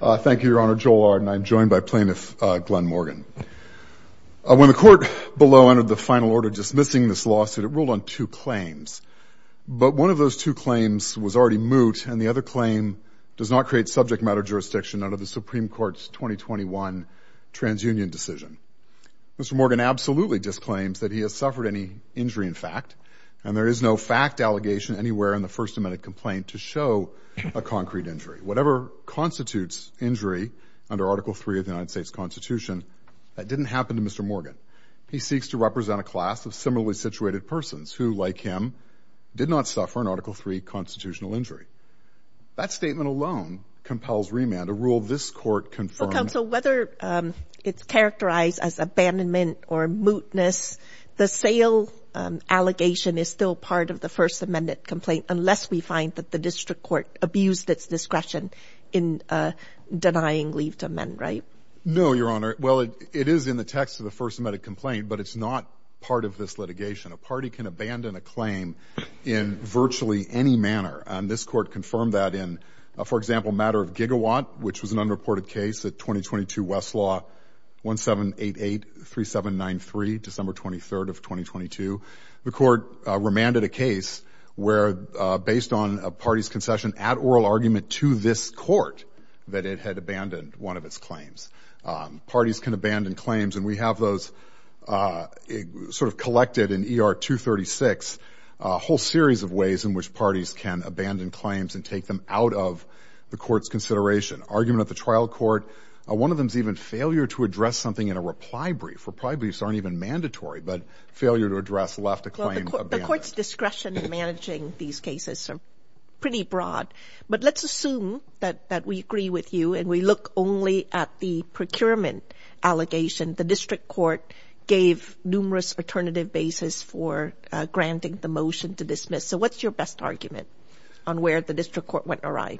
Thank you, Your Honor. Joel Arden. I'm joined by Plaintiff Glenn Morgan. When the Court below entered the final order dismissing this lawsuit, it ruled on two claims. But one of those two claims was already moot, and the other claim does not create subject matter jurisdiction under the Supreme Court's 2021 TransUnion decision. Mr. Morgan absolutely disclaims that he has suffered any injury in fact, and there is no fact allegation anywhere in the First Amendment complaint to show a concrete injury. Whatever constitutes injury under Article III of the United States Constitution, that didn't happen to Mr. Morgan. He seeks to represent a class of similarly situated persons who, like him, did not suffer an Article III constitutional injury. That statement alone compels remand, a rule this Court confirmed. Well, Counsel, whether it's characterized as abandonment or mootness, the sale allegation is still part of the First Amendment complaint, unless we find that the District Court abused its discretion in denying leave to amend, right? No, Your Honor. Well, it is in the text of the First Amendment complaint, but it's not part of this litigation. A party can abandon a claim in virtually any manner, and this Court confirmed that in, for example, a matter of Gigawatt, which was an unreported case at 2022 Westlaw 17883793, December 23rd of 2022. The Court remanded a case where, based on a party's concession at oral argument to this Court, that it had abandoned one of its claims. Parties can abandon claims, and we have those sort of collected in ER 236, a whole series of ways in which parties can abandon claims and take them out of the Court's consideration. Argument at the Court's discretion in managing these cases are pretty broad, but let's assume that we agree with you and we look only at the procurement allegation the District Court gave numerous alternative basis for granting the motion to dismiss. So, what's your best argument on where the District Court went awry?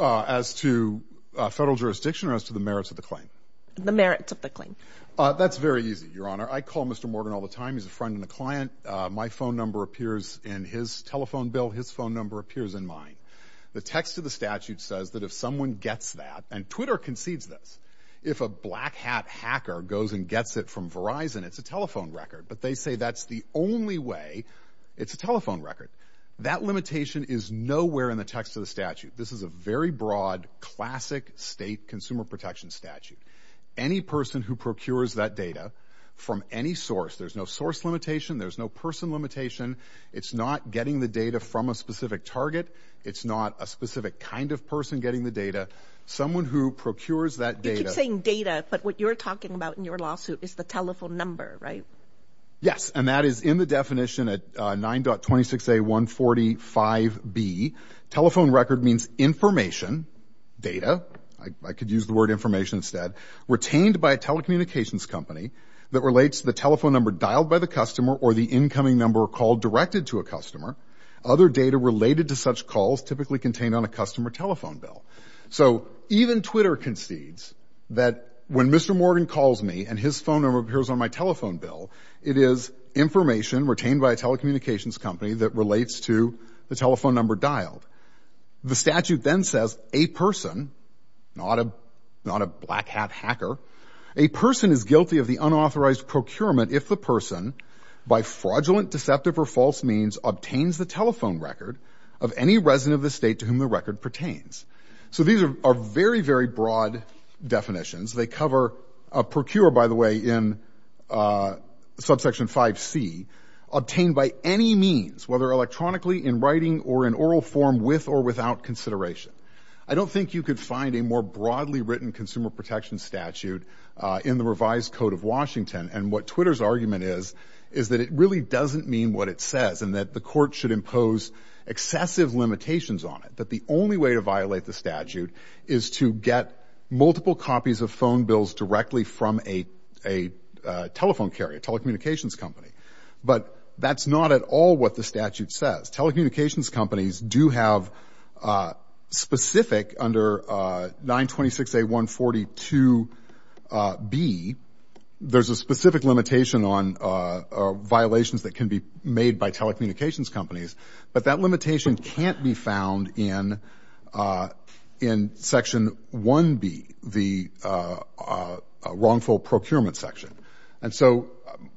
As to federal jurisdiction or as to the merits of the claim? That's very easy, Your Honor. I call Mr. Morgan all the time. He's a friend and a client. My phone number appears in his telephone bill. His phone number appears in mine. The text of the statute says that if someone gets that, and Twitter concedes this, if a black hat hacker goes and gets it from Verizon, it's a telephone record. But they say that's the only way it's a telephone record. That limitation is nowhere in the text of the statute. This is a very broad, classic state consumer protection statute. Any person who procures that data from any source, there's no source limitation. There's no person limitation. It's not getting the data from a specific target. It's not a specific kind of person getting the data. Someone who procures that data... You keep saying data, but what you're talking about in your lawsuit is the telephone number, right? Yes, and that is in the definition at 9.26a.145b. Telephone record means information, data. I could use the word information instead. Retained by a telecommunications company that relates to the telephone number dialed by the customer or the incoming number called directed to a customer. Other data related to such calls typically contained on a customer telephone bill. So even Twitter concedes that when Mr. Morgan calls me and his phone number appears on my bill, it is information retained by a telecommunications company that relates to the telephone number dialed. The statute then says a person, not a black hat hacker, a person is guilty of the unauthorized procurement if the person by fraudulent, deceptive or false means obtains the telephone record of any resident of the state to whom the record pertains. So these are very, very broad definitions. They cover procure, by the way, in subsection 5c, obtained by any means, whether electronically, in writing or in oral form, with or without consideration. I don't think you could find a more broadly written consumer protection statute in the revised code of Washington. And what Twitter's argument is, is that it really doesn't mean what it says and that the court should impose excessive limitations on it. That the only way to violate the statute is to get multiple copies of from a telephone carrier, telecommunications company. But that's not at all what the statute says. Telecommunications companies do have specific under 926A142B, there's a specific limitation on violations that can be made by telecommunications companies, but that limitation can't be found in Section 1B, the wrongful procurement section. And so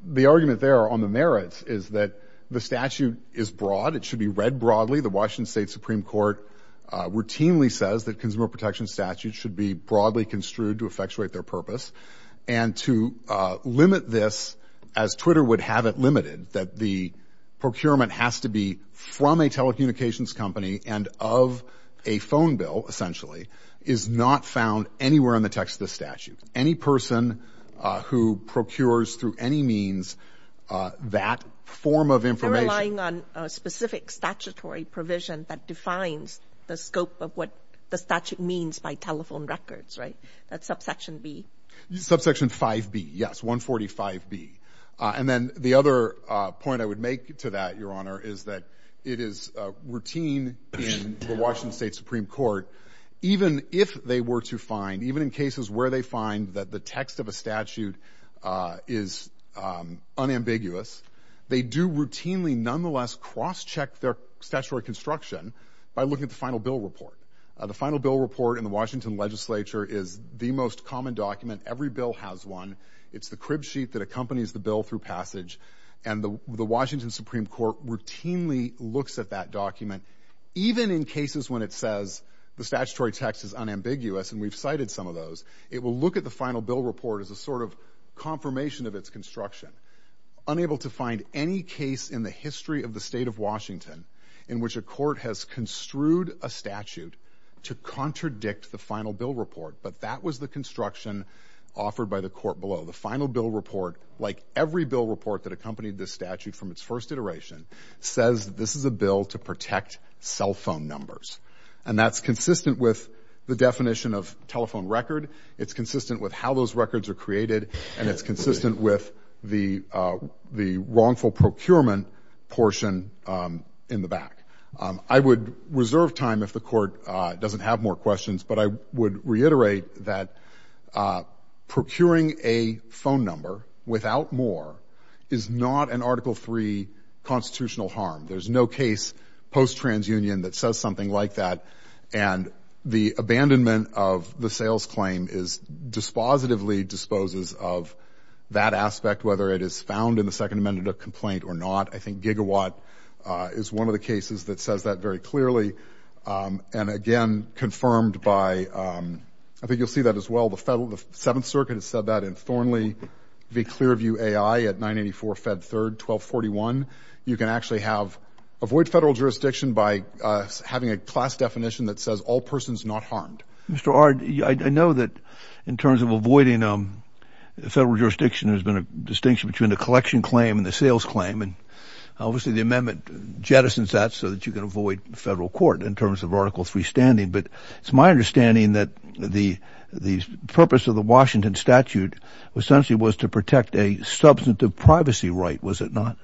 the argument there on the merits is that the statute is broad, it should be read broadly. The Washington State Supreme Court routinely says that consumer protection statutes should be broadly construed to effectuate their purpose. And to limit this, as Twitter would have it limited, that the procurement has to be from a telecommunications company and of a phone bill, essentially, is not found anywhere in the text of the statute. Any person who procures through any means that form of information. They're relying on a specific statutory provision that defines the scope of what the statute means by telephone records, right? That's subsection B. Subsection 5B, yes, 145B. And then the other point I would make to that, Your Honor, is that it is routine in the Washington State Supreme Court, even if they were to find, even in cases where they find that the text of a statute is unambiguous, they do routinely nonetheless cross-check their statutory construction by looking at the final bill report. The final bill report in the Washington legislature is the most common document, every bill has one. It's the crib sheet that accompanies the bill through passage. And the Washington Supreme Court routinely looks at that document, even in cases when it says the statutory text is unambiguous, and we've cited some of those, it will look at the final bill report as a sort of confirmation of its construction. Unable to find any case in the of the state of Washington in which a court has construed a statute to contradict the final bill report, but that was the construction offered by the court below. The final bill report, like every bill report that accompanied this statute from its first iteration, says this is a bill to protect cell phone numbers. And that's consistent with the definition of telephone record, it's consistent with how those records are created, and it's consistent with the the wrongful procurement portion in the back. I would reserve time if the court doesn't have more questions, but I would reiterate that procuring a phone number without more is not an Article III constitutional harm. There's no case post-transunion that says something like that, and the abandonment of the sales claim dispositively disposes of that aspect, whether it is found in the Second Amendment complaint or not. I think Gigawatt is one of the cases that says that very clearly. And again, confirmed by, I think you'll see that as well, the Federal, the Seventh Circuit has said that in Thornley v. Clearview A.I. at 984 Fed 3rd 1241. You can actually have, avoid federal jurisdiction by having a class definition that says all persons not harmed. Mr. Ard, I know that in terms of avoiding federal jurisdiction, there's been a collection claim and a sales claim, and obviously the amendment jettisons that so that you can avoid federal court in terms of Article III standing, but it's my understanding that the purpose of the Washington statute essentially was to protect a substantive privacy right, was it not?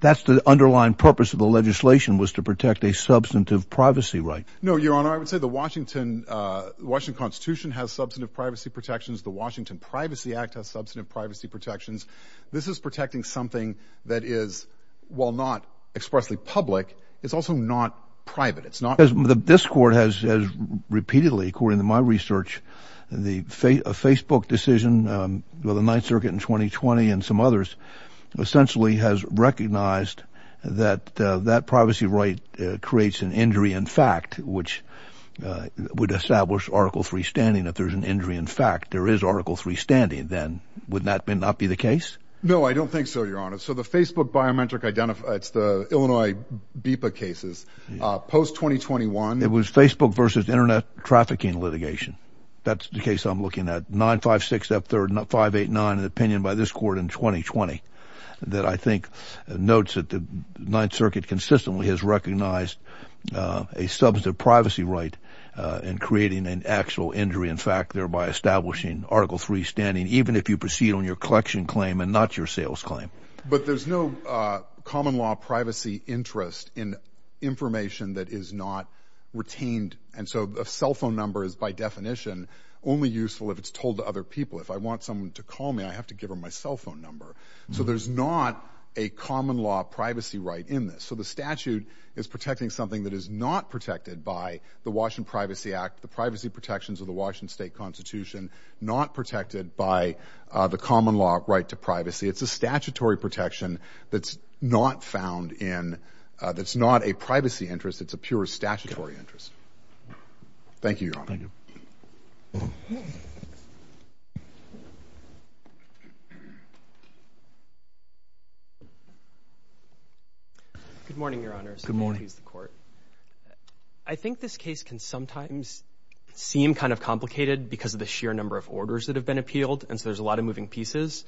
That's the underlying purpose of the legislation, was to protect a substantive privacy right. No, Your Honor, I would say the Washington Constitution has substantive privacy protections. The Washington Privacy Act has substantive privacy protections. This is protecting something that is, while not expressly public, it's also not private. It's not. This court has, has repeatedly, according to my research, the Facebook decision with the Ninth Circuit in 2020 and some others essentially has recognized that that privacy right creates an injury in fact, which would establish Article III standing if there's an injury in fact, there is Article III standing, then would that not be the case? No, I don't think so, Your Honor. So the Facebook biometric, it's the Illinois BIPA cases, post-2021. It was Facebook versus internet trafficking litigation. That's the case I'm looking at. 956 up there, not 589, an opinion by this court in 2020 that I think notes that the Ninth Circuit consistently has recognized a substantive privacy right and creating an injury in fact, thereby establishing Article III standing, even if you proceed on your collection claim and not your sales claim. But there's no common law privacy interest in information that is not retained. And so a cell phone number is by definition only useful if it's told to other people. If I want someone to call me, I have to give them my cell phone number. So there's not a common law privacy right in this. So the statute is protecting something that is not protected by the Washington Privacy Act, the privacy protections of the Washington State Constitution, not protected by the common law right to privacy. It's a statutory protection that's not found in, that's not a privacy interest. It's a pure statutory interest. Thank you, Your Honor. Good morning, Your Honor. Good morning. I think this case can sometimes seem kind of complicated because of the sheer number of orders that have been appealed. And so there's a lot of moving pieces.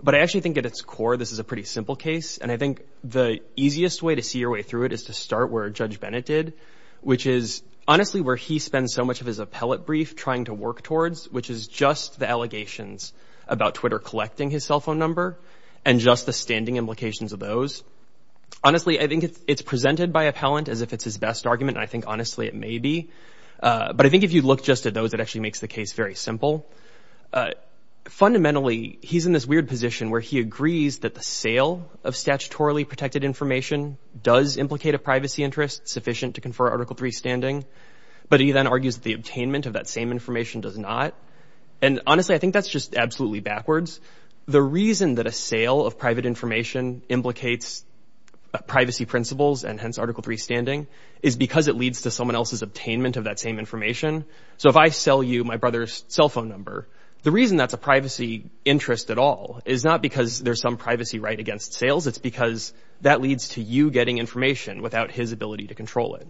But I actually think at its core, this is a pretty simple case. And I think the easiest way to see your way through it is to start where Judge Bennett did, which is honestly where he spends so much of his appellate brief trying to work towards, which is just the allegations about Twitter collecting his cell phone number and just the standing implications of those. Honestly, I think it's presented by appellant as if it's his best argument. And I think honestly, it may be. But I think if you look just at those, it actually makes the case very simple. Fundamentally, he's in this weird position where he agrees that the sale of statutorily protected information does implicate a privacy interest sufficient to confer Article III standing. But he then argues the attainment of that same information does not. And honestly, I think that's just absolutely backwards. The reason that a sale of private information implicates privacy principles and hence Article III standing is because it leads to someone else's attainment of that same information. So if I sell you my brother's cell phone number, the reason that's a privacy interest at all is not because there's some privacy right against sales. It's because that leads to you getting information without his ability to control it.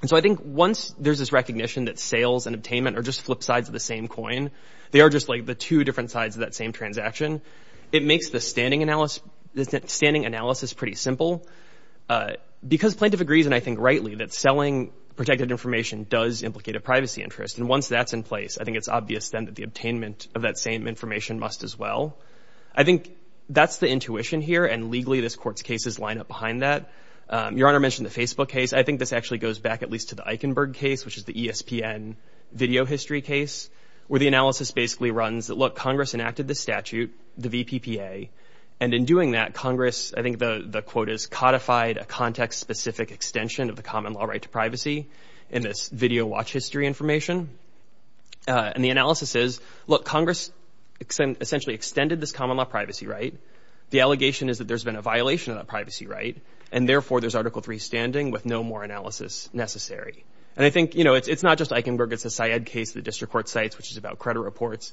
And so I think once there's this recognition that sales and attainment are just flip sides of the same coin, they are just like the two different sides of that same transaction, it makes the standing analysis pretty simple. Because plaintiff agrees, and I think rightly, that selling protected information does implicate a privacy interest. And once that's in place, I think it's obvious then that the attainment of that same information must as well. I think that's the intuition here. And legally, this Court's cases line up behind that. Your Honor mentioned the Facebook case. I think this actually goes back at least to the Eichenberg case, which is the ESPN video history case, where the analysis basically runs that, look, Congress enacted the statute, the VPPA. And in doing that, Congress, I think the quote is, codified a context-specific extension of the common law right to privacy in this video watch history information. And the analysis is, look, Congress essentially extended this common law privacy right. The allegation is that there's been a violation of that privacy right. And therefore, there's Article III standing with no more analysis necessary. And I think, you know, it's not just Eichenberg. It's a Syed case, the district court cites, which is about credit reports.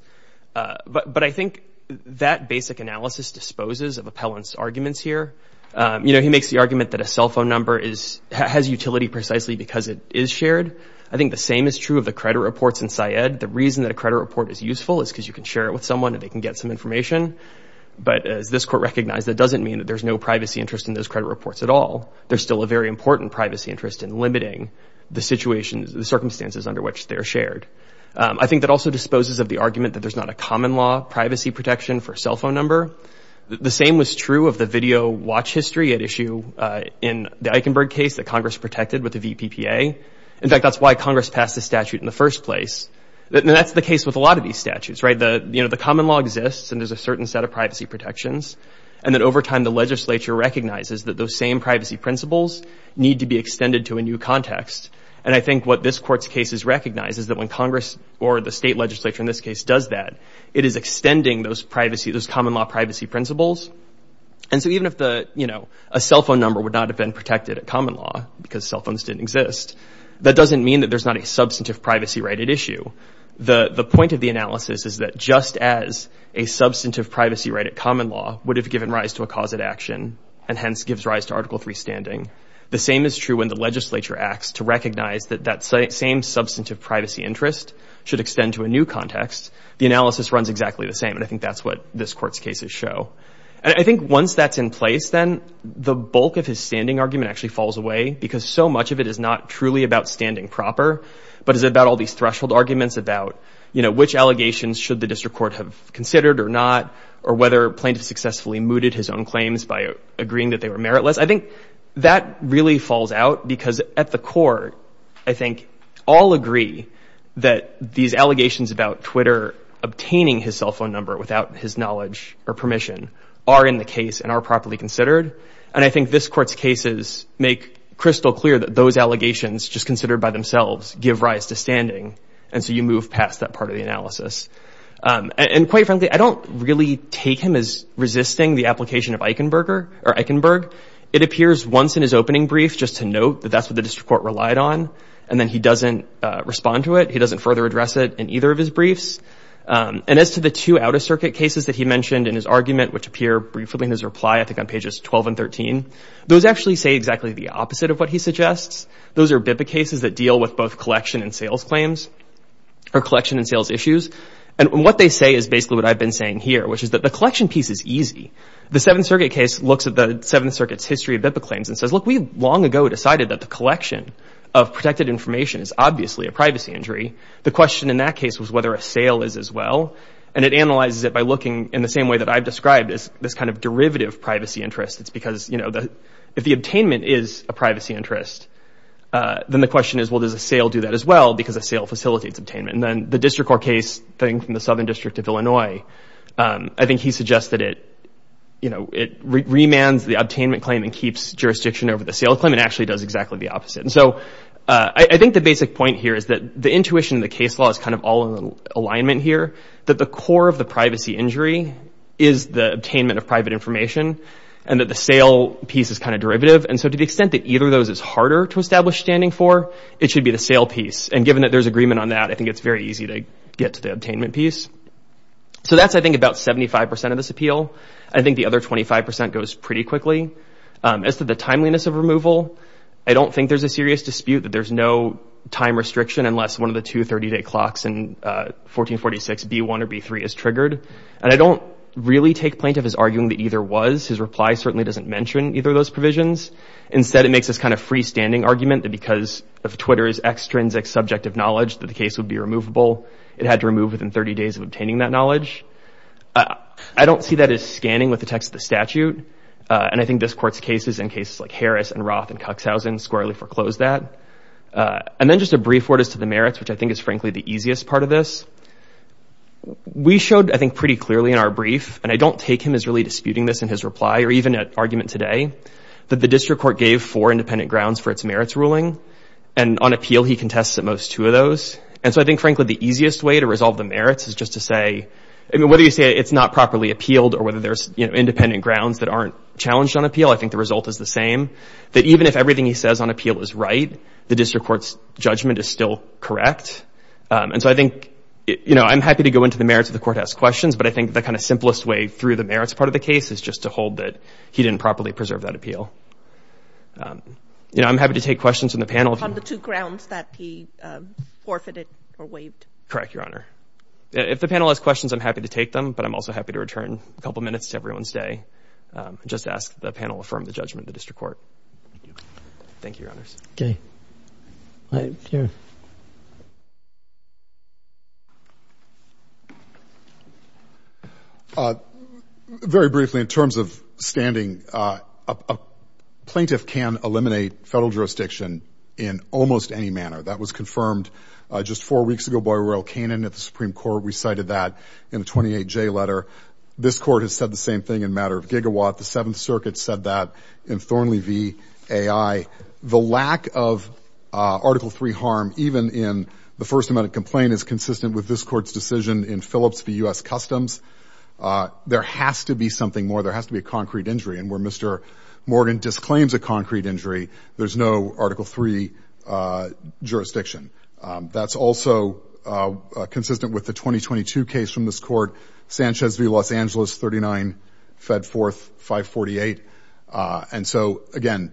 But I think that basic analysis disposes of Appellant's arguments here. You know, he makes the argument that a cell phone number has utility precisely because it is shared. I think the same is true of the credit reports in Syed. The reason that a credit report is useful is because you can share it with someone and they can get some information. But as this Court recognized, that doesn't mean that there's no privacy interest in those credit reports at all. There's still a very important privacy interest in limiting the circumstances under which they're shared. I think that also disposes of the argument that there's not a common law privacy protection for cell phone number. The same was true of the video watch history at issue in the Eichenberg case that Congress protected with the VPPA. In fact, that's why Congress passed the statute in the first place. And that's the case with a lot of these statutes, right? You know, the common law exists and there's a certain set of privacy protections. And then over time, the legislature recognizes that those same privacy principles need to be extended to a new context. And I think what this Court's case is recognized is that when Congress or the state legislature in this case does that, it is extending those privacy, those common law privacy principles. And so even if a cell phone number would not have been protected at common law because cell phones didn't exist, that doesn't mean that there's not a substantive privacy right at issue. The point of the analysis is that just as a substantive privacy right at and hence gives rise to Article III standing, the same is true when the legislature acts to recognize that that same substantive privacy interest should extend to a new context. The analysis runs exactly the same. And I think that's what this Court's cases show. And I think once that's in place, then the bulk of his standing argument actually falls away because so much of it is not truly about standing proper, but is about all these threshold arguments about, you know, which allegations should the district court have considered or not, or whether plaintiff successfully mooted his own claims by agreeing that they were meritless. I think that really falls out because at the core, I think all agree that these allegations about Twitter obtaining his cell phone number without his knowledge or permission are in the case and are properly considered. And I think this Court's cases make crystal clear that those allegations just considered by themselves give rise to standing. And so you move past that part of the analysis. And quite frankly, I don't really take him as resisting the application of Eichenberger or Eichenberg. It appears once in his opening brief, just to note that that's what the district court relied on, and then he doesn't respond to it. He doesn't further address it in either of his briefs. And as to the two Outer Circuit cases that he mentioned in his argument, which appear briefly in his reply, I think on pages 12 and 13, those actually say exactly the opposite of what he suggests. Those are BIPA cases that deal with both collection and sales claims, or collection and sales issues. And what they say is basically what I've been saying here, which is that the collection piece is easy. The Seventh Circuit case looks at the Seventh Circuit's history of BIPA claims and says, look, we long ago decided that the collection of protected information is obviously a privacy injury. The question in that case was whether a sale is as well. And it analyzes it by looking in the same way that I've described as this kind of derivative privacy interest. It's because if the obtainment is a privacy interest, then the question is, well, does a sale do that as well because a sale facilitates obtainment? And then the District Court case thing from the Southern District of Illinois, I think he suggests that it remands the obtainment claim and keeps jurisdiction over the sale claim and actually does exactly the opposite. And so I think the basic point here is that the intuition in the case law is kind of all in alignment here, that the core of the privacy injury is the attainment of private information and that the sale piece is kind of derivative. And so to the extent that either of those is harder to establish standing for, it should be the sale piece. And given that there's agreement on that, I think it's very easy to get to the attainment piece. So that's, I think, about 75% of this appeal. I think the other 25% goes pretty quickly. As to the timeliness of removal, I don't think there's a serious dispute that there's no time restriction unless one of the two 30-day clocks in 1446 B1 or B3 is triggered. And I don't really take plaintiff as arguing that either was. His reply certainly doesn't mention either of those provisions. Instead, it makes this kind of freestanding argument that because of Twitter's extrinsic subjective knowledge that the case would be removable, it had to remove within 30 days of obtaining that knowledge. I don't see that as scanning with the text of the statute. And I think this court's cases, in cases like Harris and Roth and Cuxhausen, squarely foreclosed that. And then just a brief word as to the merits, which I think is, frankly, the easiest part of this. We showed, I think, pretty clearly in our brief, and I don't take him as really disputing this in his reply or even at argument today, that the district court gave four independent grounds for its merits ruling. And on appeal, he contests at most two of those. And so I think, frankly, the easiest way to resolve the merits is just to say, whether you say it's not properly appealed or whether there's independent grounds that aren't challenged on appeal, I think the result is the same, that even if everything he says on appeal is right, the district court's judgment is still correct. And so I think I'm happy to go into the merits if the court has questions, but I think the kind of simplest way through the merits part of the case is just to hold that he didn't properly preserve that appeal. You know, I'm happy to take questions from the panel. On the two grounds that he forfeited or waived? Correct, Your Honor. If the panel has questions, I'm happy to take them, but I'm also happy to return a couple of minutes to everyone's day and just ask that the panel affirm the judgment of the district court. Thank you, Your Honors. Okay. All right, here. Uh, very briefly, in terms of standing, uh, a plaintiff can eliminate federal jurisdiction in almost any manner. That was confirmed just four weeks ago by Royal Canin at the Supreme Court. We cited that in the 28J letter. This court has said the same thing in matter of gigawatt. The Seventh in the First Amendment complaint is consistent with this court's decision in Phillips v. U.S. Customs. There has to be something more. There has to be a concrete injury. And where Mr. Morgan disclaims a concrete injury, there's no Article III jurisdiction. That's also consistent with the 2022 case from this court, Sanchez v. Los Angeles, 39, Fed Fourth, 548. And so, again,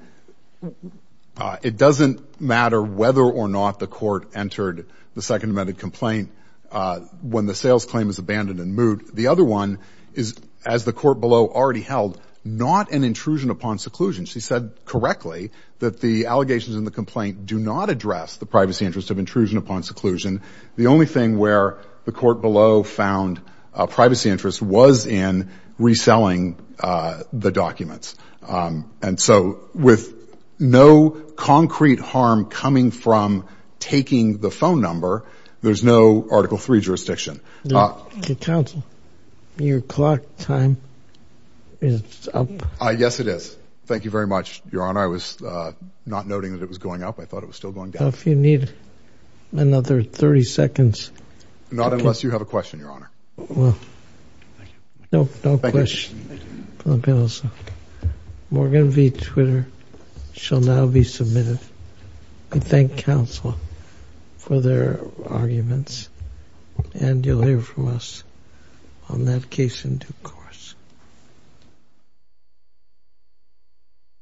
uh, it doesn't matter whether or not the court entered the Second Amendment complaint, uh, when the sales claim is abandoned and moot. The other one is, as the court below already held, not an intrusion upon seclusion. She said correctly that the allegations in the complaint do not address the privacy interest of intrusion upon seclusion. The only thing where the court found a privacy interest was in reselling the documents. And so, with no concrete harm coming from taking the phone number, there's no Article III jurisdiction. Counsel, your clock time is up. Yes, it is. Thank you very much, Your Honor. I was not noting that it was going up. I thought it was still going down. If you need another 30 seconds. Not unless you have a question, Your Honor. No, no question. Morgan v. Twitter shall now be submitted. I thank counsel for their arguments and you'll hear from us on that case in due course.